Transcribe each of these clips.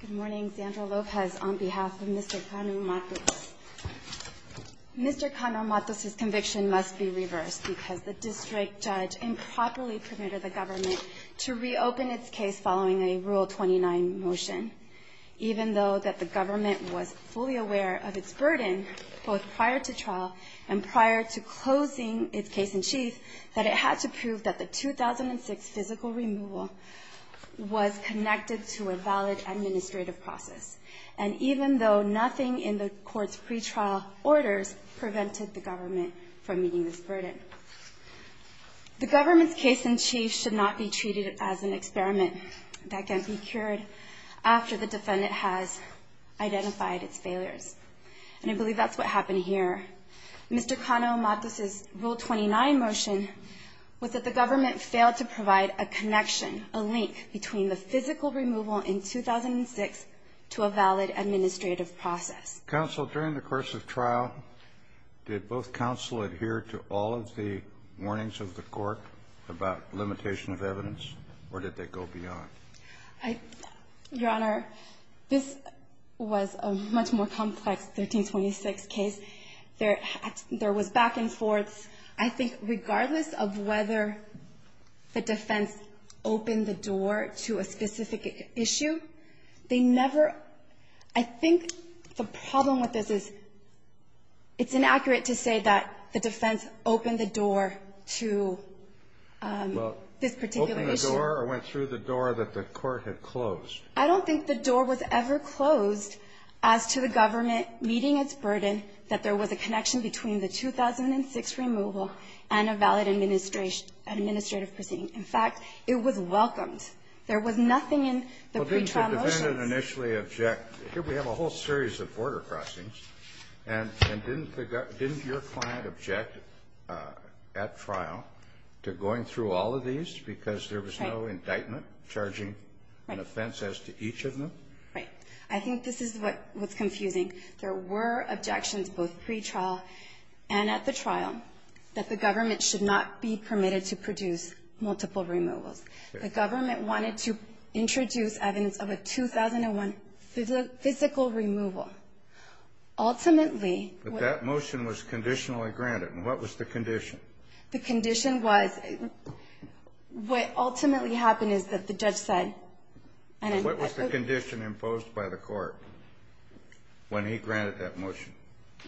Good morning, Sandra Lopez on behalf of Mr. Cano-Matus. Mr. Cano-Matus' conviction must be reversed because the district judge improperly permitted the government to reopen its case following a Rule 29 motion, even though that the government was fully aware of its burden, both prior to trial and prior to closing its case in chief, that it had to prove that the 2006 physical removal was connected to the valid administrative process, and even though nothing in the court's pretrial orders prevented the government from meeting this burden. The government's case in chief should not be treated as an experiment that can't be cured after the defendant has identified its failures. And I believe that's what happened here. Mr. Cano-Matus' Rule 29 motion was that the government failed to provide a connection, a link, between the physical removal in 2006 to a valid administrative process. Counsel, during the course of trial, did both counsel adhere to all of the warnings of the court about limitation of evidence, or did they go beyond? Your Honor, this was a much more complex 1326 case. There was back and forth. I think regardless of whether the defense opened the door to a specific issue, they never – I think the problem with this is it's inaccurate to say that the defense opened the door to this particular issue. Well, opened the door or went through the door that the court had closed? I don't think the door was ever closed as to the government meeting its burden that there was a connection between the 2006 removal and a valid administrative proceeding. In fact, it was welcomed. There was nothing in the pre-trial motions. Well, didn't the defendant initially object – here we have a whole series of border crossings, and didn't the – didn't your client object at trial to going through all of these because there was no indictment charging an offense as to each of them? Right. I think this is what's confusing. I think there were objections, both pre-trial and at the trial, that the government should not be permitted to produce multiple removals. The government wanted to introduce evidence of a 2001 physical removal. Ultimately – But that motion was conditionally granted, and what was the condition? The condition was – what ultimately happened is that the judge said – What was the condition imposed by the court when he granted that motion?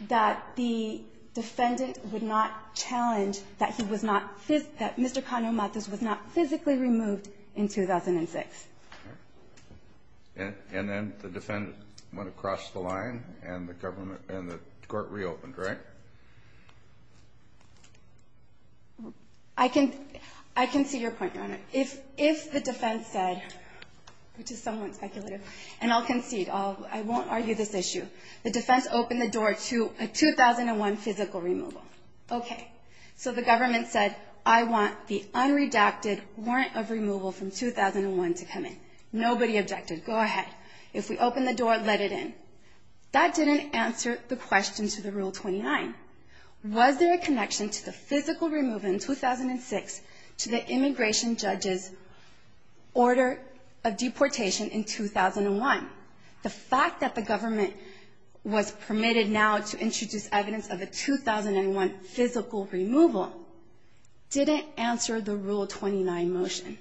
That the defendant would not challenge that he was not – that Mr. Cano Matos was not physically removed in 2006. And then the defendant went across the line, and the government – and the court reopened, right? I can see your point, Your Honor. If the defense said – which is somewhat speculative, and I'll concede, I won't argue this issue – the defense opened the door to a 2001 physical removal. Okay. So the government said, I want the unredacted warrant of removal from 2001 to come in. Nobody objected. Go ahead. If we open the door, let it in. That didn't answer the question to the Rule 29. Was there a connection to the physical removal in 2006 to the immigration judge's order of deportation in 2001? The fact that the government was permitted now to introduce evidence of a 2001 physical removal didn't answer the Rule 29 motion.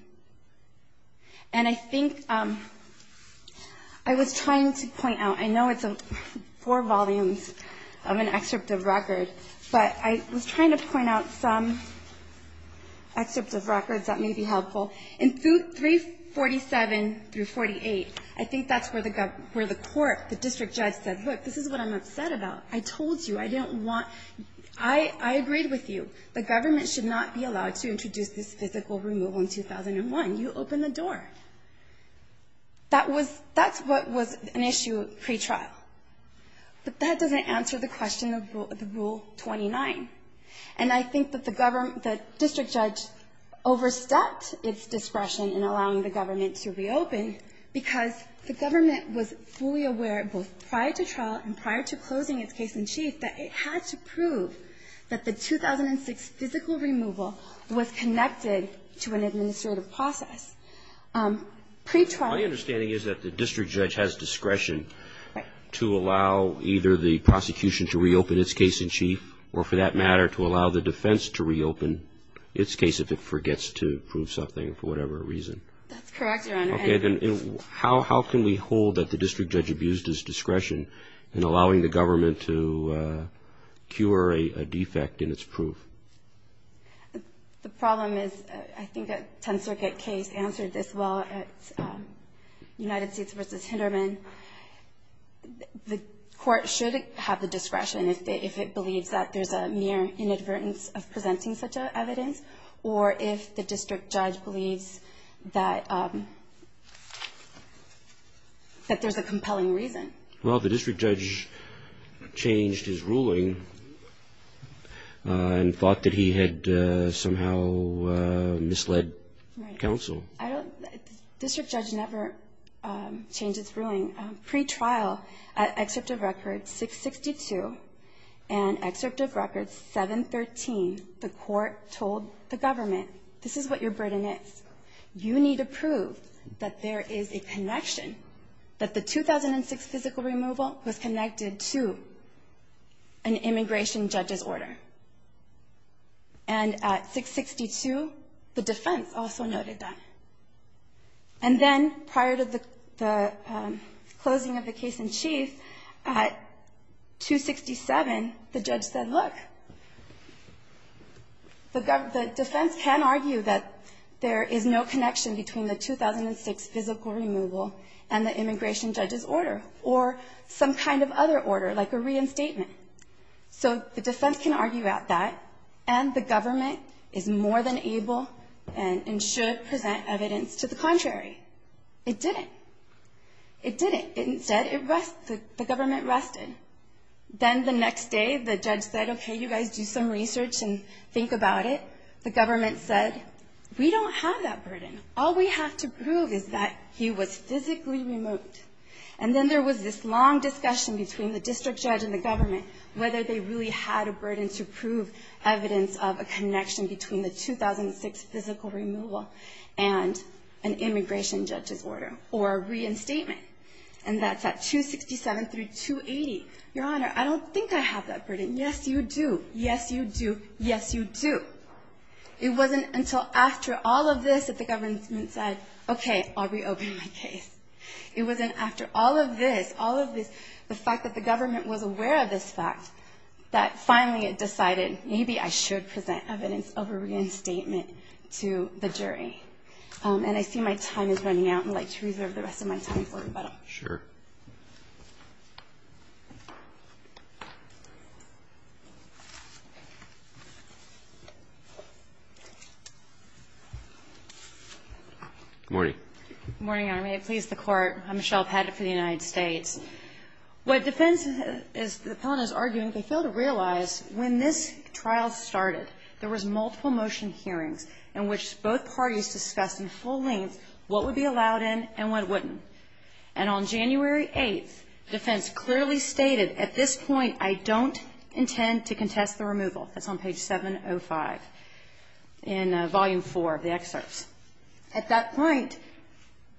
And I think – I was trying to point out – I know it's four volumes of an excerpt of record, but I was trying to point out some excerpts of records that may be helpful. In 347 through 48, I think that's where the court – the district judge said, look, this is what I'm upset about. I told you, I didn't want – I agreed with you. The government should not be allowed to introduce this physical removal in 2001. You opened the door. That was – that's what was an issue pre-trial. But that doesn't answer the question of the Rule 29. And I think that the district judge overstepped its discretion in allowing the government to reopen because the government was fully aware, both prior to trial and prior to closing its case in chief, that it had to prove that the 2006 physical removal was connected to an administrative process. Pre-trial – My understanding is that the district judge has discretion to allow either the prosecution to reopen its case in chief or, for that matter, to allow the defense to reopen its case if it forgets to prove something for whatever reason. That's correct, Your Honor. Okay. Then how can we hold that the district judge abused his discretion in allowing the government to cure a defect in its proof? The problem is – I think a Tenth Circuit case answered this well at United States v. Hinderman. The court should have the discretion if it believes that there's a mere inadvertence of presenting such evidence or if the district judge believes that there's a compelling reason. Well, the district judge changed his ruling and thought that he had somehow misled counsel. The district judge never changed his ruling. Pre-trial, at Excerpt of Record 662 and Excerpt of Record 713, the court told the government, this is what your burden is. You need to prove that there is a connection, that the 2006 physical removal was connected to an immigration judge's order. And at 662, the defense also noted that. And then, prior to the closing of the case in chief, at 267, the judge said, look, the defense can argue that there is no connection between the 2006 physical removal and the immigration judge's order or some kind of other order, like a reinstatement. So the defense can argue that, and the government is more than able and should present evidence to the contrary. It didn't. It didn't. Instead, the government rested. Then the next day, the judge said, okay, you guys do some research and think about it. The government said, we don't have that burden. All we have to prove is that he was physically removed. And then there was this long discussion between the district judge and the government, whether they really had a burden to prove evidence of a connection between the 2006 physical removal and an immigration judge's order or a reinstatement. And that's at 267 through 280. Your Honor, I don't think I have that burden. Yes, you do. Yes, you do. Yes, you do. It wasn't until after all of this that the government said, okay, I'll reopen my case. It wasn't after all of this, all of this, the fact that the government was aware of this fact, that finally it decided maybe I should present evidence of a reinstatement to the jury. And I see my time is running out, and I'd like to reserve the rest of my time for rebuttal. Sure. Good morning. Good morning, Your Honor. May it please the Court. I'm Michelle Pettit for the United States. What defense is the plaintiffs arguing, they fail to realize when this trial started, there was multiple motion hearings in which both parties discussed in full length what would be allowed in and what wouldn't. And on January 8th, defense clearly stated, at this point, I don't intend to contest the removal. That's on page 705 in Volume IV of the excerpts. At that point,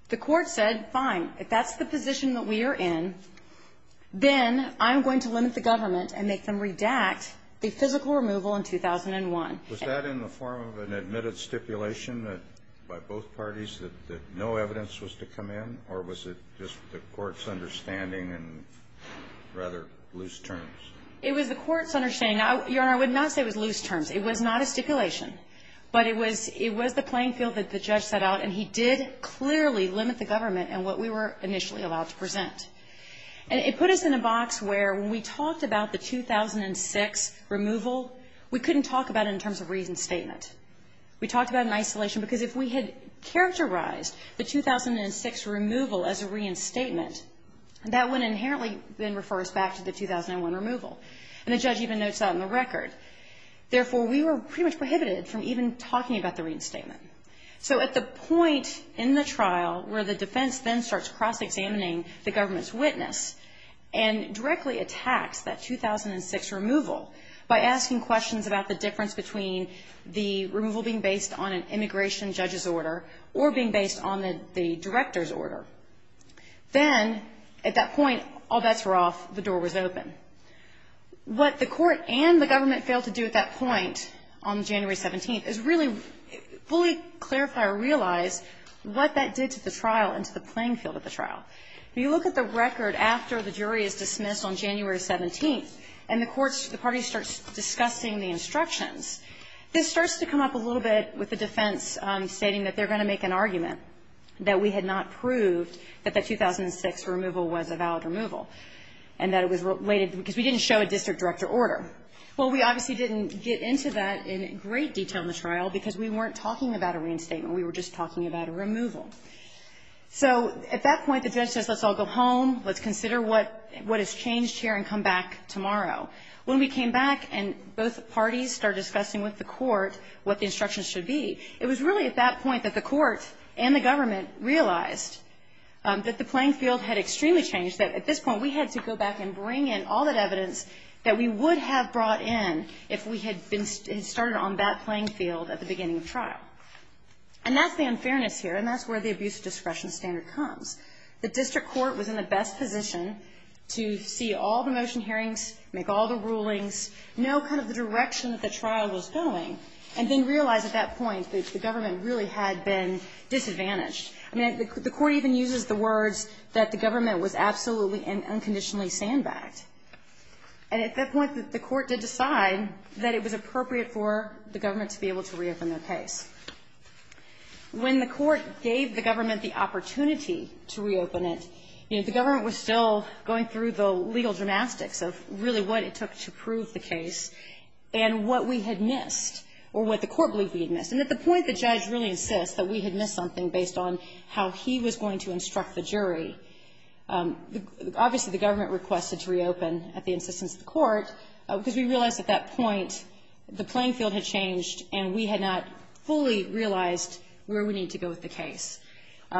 the court said, fine, if that's the position that we are in, then I'm going to limit the government and make them redact the physical removal in 2001. Was that in the form of an admitted stipulation by both parties that no evidence was to come in, or was it just the court's understanding and rather loose terms? It was the court's understanding. Your Honor, I would not say it was loose terms. It was not a stipulation. But it was the playing field that the judge set out, and he did clearly limit the government in what we were initially allowed to present. And it put us in a box where when we talked about the 2006 removal, we couldn't talk about it in terms of reinstatement. We talked about it in isolation because if we had characterized the 2006 removal as a reinstatement, that would inherently then refer us back to the 2001 removal. And the judge even notes that in the record. Therefore, we were pretty much prohibited from even talking about the reinstatement. So at the point in the trial where the defense then starts cross-examining the government's witness and directly attacks that 2006 removal by asking questions about the difference between the removal being based on an immigration judge's order or being based on the director's order, then at that point, all bets were off, the door was open. What the Court and the government failed to do at that point on January 17th is really fully clarify or realize what that did to the trial and to the playing field of the trial. If you look at the record after the jury is dismissed on January 17th and the courts or the parties start discussing the instructions, this starts to come up a little bit with the defense stating that they're going to make an argument that we had not a valid removal. And that it was related because we didn't show a district director order. Well, we obviously didn't get into that in great detail in the trial because we weren't talking about a reinstatement. We were just talking about a removal. So at that point, the judge says, let's all go home, let's consider what has changed here and come back tomorrow. When we came back and both parties started discussing with the Court what the instructions should be, it was really at that point that the Court and the government realized that the playing field had extremely changed. That at this point, we had to go back and bring in all that evidence that we would have brought in if we had started on that playing field at the beginning of trial. And that's the unfairness here. And that's where the abuse of discretion standard comes. The district court was in the best position to see all the motion hearings, make all the rulings, know kind of the direction that the trial was going, and then realize at that point that the government really had been disadvantaged. I mean, the Court even uses the words that the government was absolutely and unconditionally sandbagged. And at that point, the Court did decide that it was appropriate for the government to be able to reopen their case. When the Court gave the government the opportunity to reopen it, you know, the government was still going through the legal dramatics of really what it took to prove the case And at the point the judge really insists that we had missed something based on how he was going to instruct the jury, obviously, the government requested to reopen at the insistence of the Court, because we realized at that point the playing field had changed and we had not fully realized where we need to go with the case.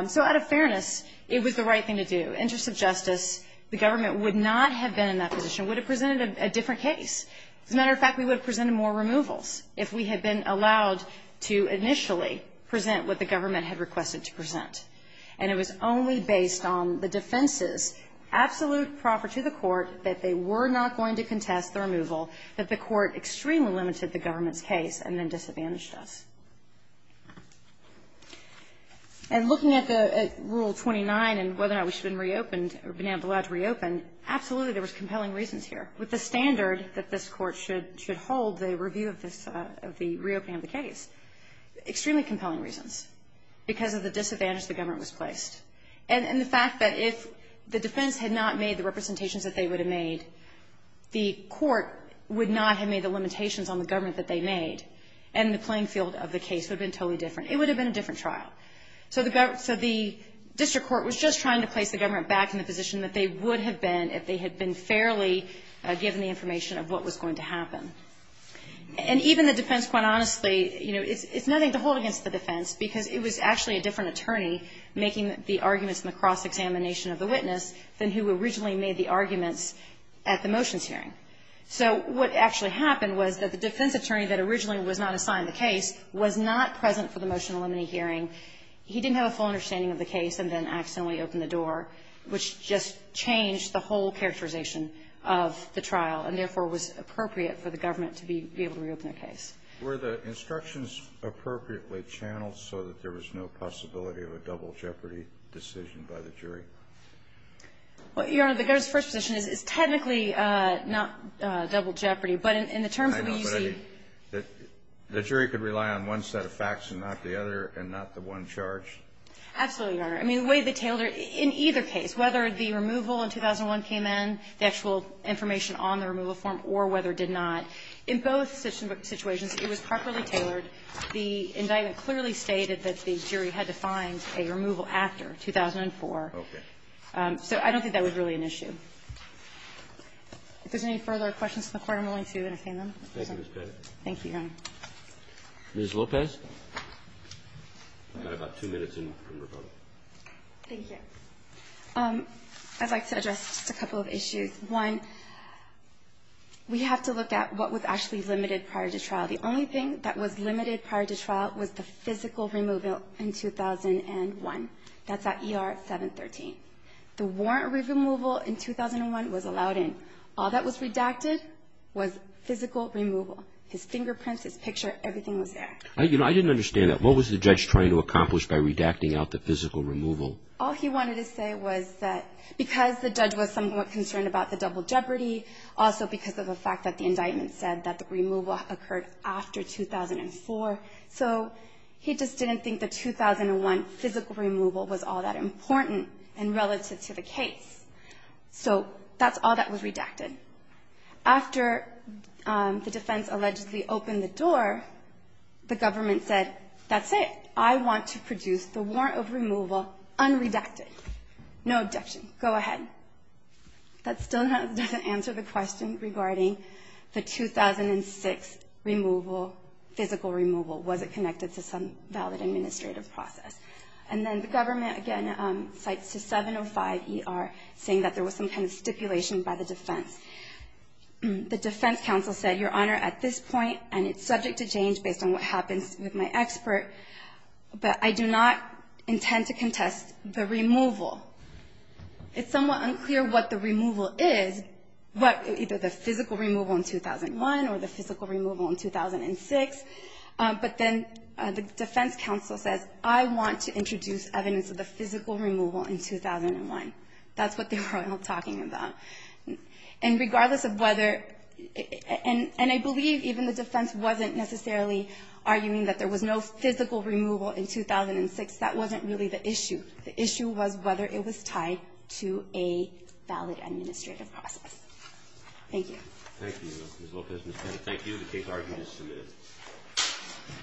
So out of fairness, it was the right thing to do. Interest of justice, the government would not have been in that position, would have presented a different case. As a matter of fact, we would have presented more removals if we had been allowed to initially present what the government had requested to present. And it was only based on the defense's absolute proffer to the Court that they were not going to contest the removal, that the Court extremely limited the government's case and then disadvantaged us. And looking at the Rule 29 and whether or not we should have been reopened or been With the standard that this Court should hold the review of the reopening of the case, extremely compelling reasons, because of the disadvantage the government was placed. And the fact that if the defense had not made the representations that they would have made, the Court would not have made the limitations on the government that they made, and the playing field of the case would have been totally different. It would have been a different trial. So the district court was just trying to place the government back in the position that they would have been if they had been fairly given the information of what was going to happen. And even the defense, quite honestly, you know, it's nothing to hold against the defense, because it was actually a different attorney making the arguments in the cross-examination of the witness than who originally made the arguments at the motions hearing. So what actually happened was that the defense attorney that originally was not assigned the case was not present for the motion to eliminate hearing. He didn't have a full understanding of the case and then accidentally opened the door, which just changed the whole characterization of the trial and, therefore, was appropriate for the government to be able to reopen the case. Were the instructions appropriately channeled so that there was no possibility of a double jeopardy decision by the jury? Well, Your Honor, the government's first position is technically not double jeopardy, but in the terms of the U.C. The jury could rely on one set of facts and not the other and not the one charged? Absolutely, Your Honor. I mean, the way they tailored it, in either case, whether the removal in 2001 came in, the actual information on the removal form, or whether it did not, in both situations, it was properly tailored. The indictment clearly stated that the jury had to find a removal after 2004. Okay. So I don't think that was really an issue. If there's any further questions to the Court, I'm willing to entertain them. Thank you, Ms. Pettit. Thank you, Your Honor. Ms. Lopez. You've got about two minutes in. Thank you. I'd like to address just a couple of issues. One, we have to look at what was actually limited prior to trial. The only thing that was limited prior to trial was the physical removal in 2001. That's at ER 713. The warrant removal in 2001 was allowed in. All that was redacted was physical removal. His fingerprints, his picture, everything was there. I didn't understand that. What was the judge trying to accomplish by redacting out the physical removal? All he wanted to say was that because the judge was somewhat concerned about the double jeopardy, also because of the fact that the indictment said that the removal occurred after 2004, so he just didn't think the 2001 physical removal was all that important in relative to the case. So that's all that was redacted. After the defense allegedly opened the door, the government said, that's it. I want to produce the warrant of removal unredacted. No abjection. Go ahead. That still doesn't answer the question regarding the 2006 removal, physical removal. Was it connected to some valid administrative process? And then the government, again, cites to 705ER, saying that there was some kind of stipulation by the defense. The defense counsel said, Your Honor, at this point, and it's subject to change based on what happens with my expert, but I do not intend to contest the removal. It's somewhat unclear what the removal is, either the physical removal in 2001 or the physical removal in 2006, but then the defense counsel says, I want to introduce evidence of the physical removal in 2001. That's what they were all talking about. And regardless of whether, and I believe even the defense wasn't necessarily arguing that there was no physical removal in 2006. That wasn't really the issue. The issue was whether it was tied to a valid administrative process. Thank you. Thank you, Ms. Lopez. Ms. Bennett, thank you. The case argument is submitted.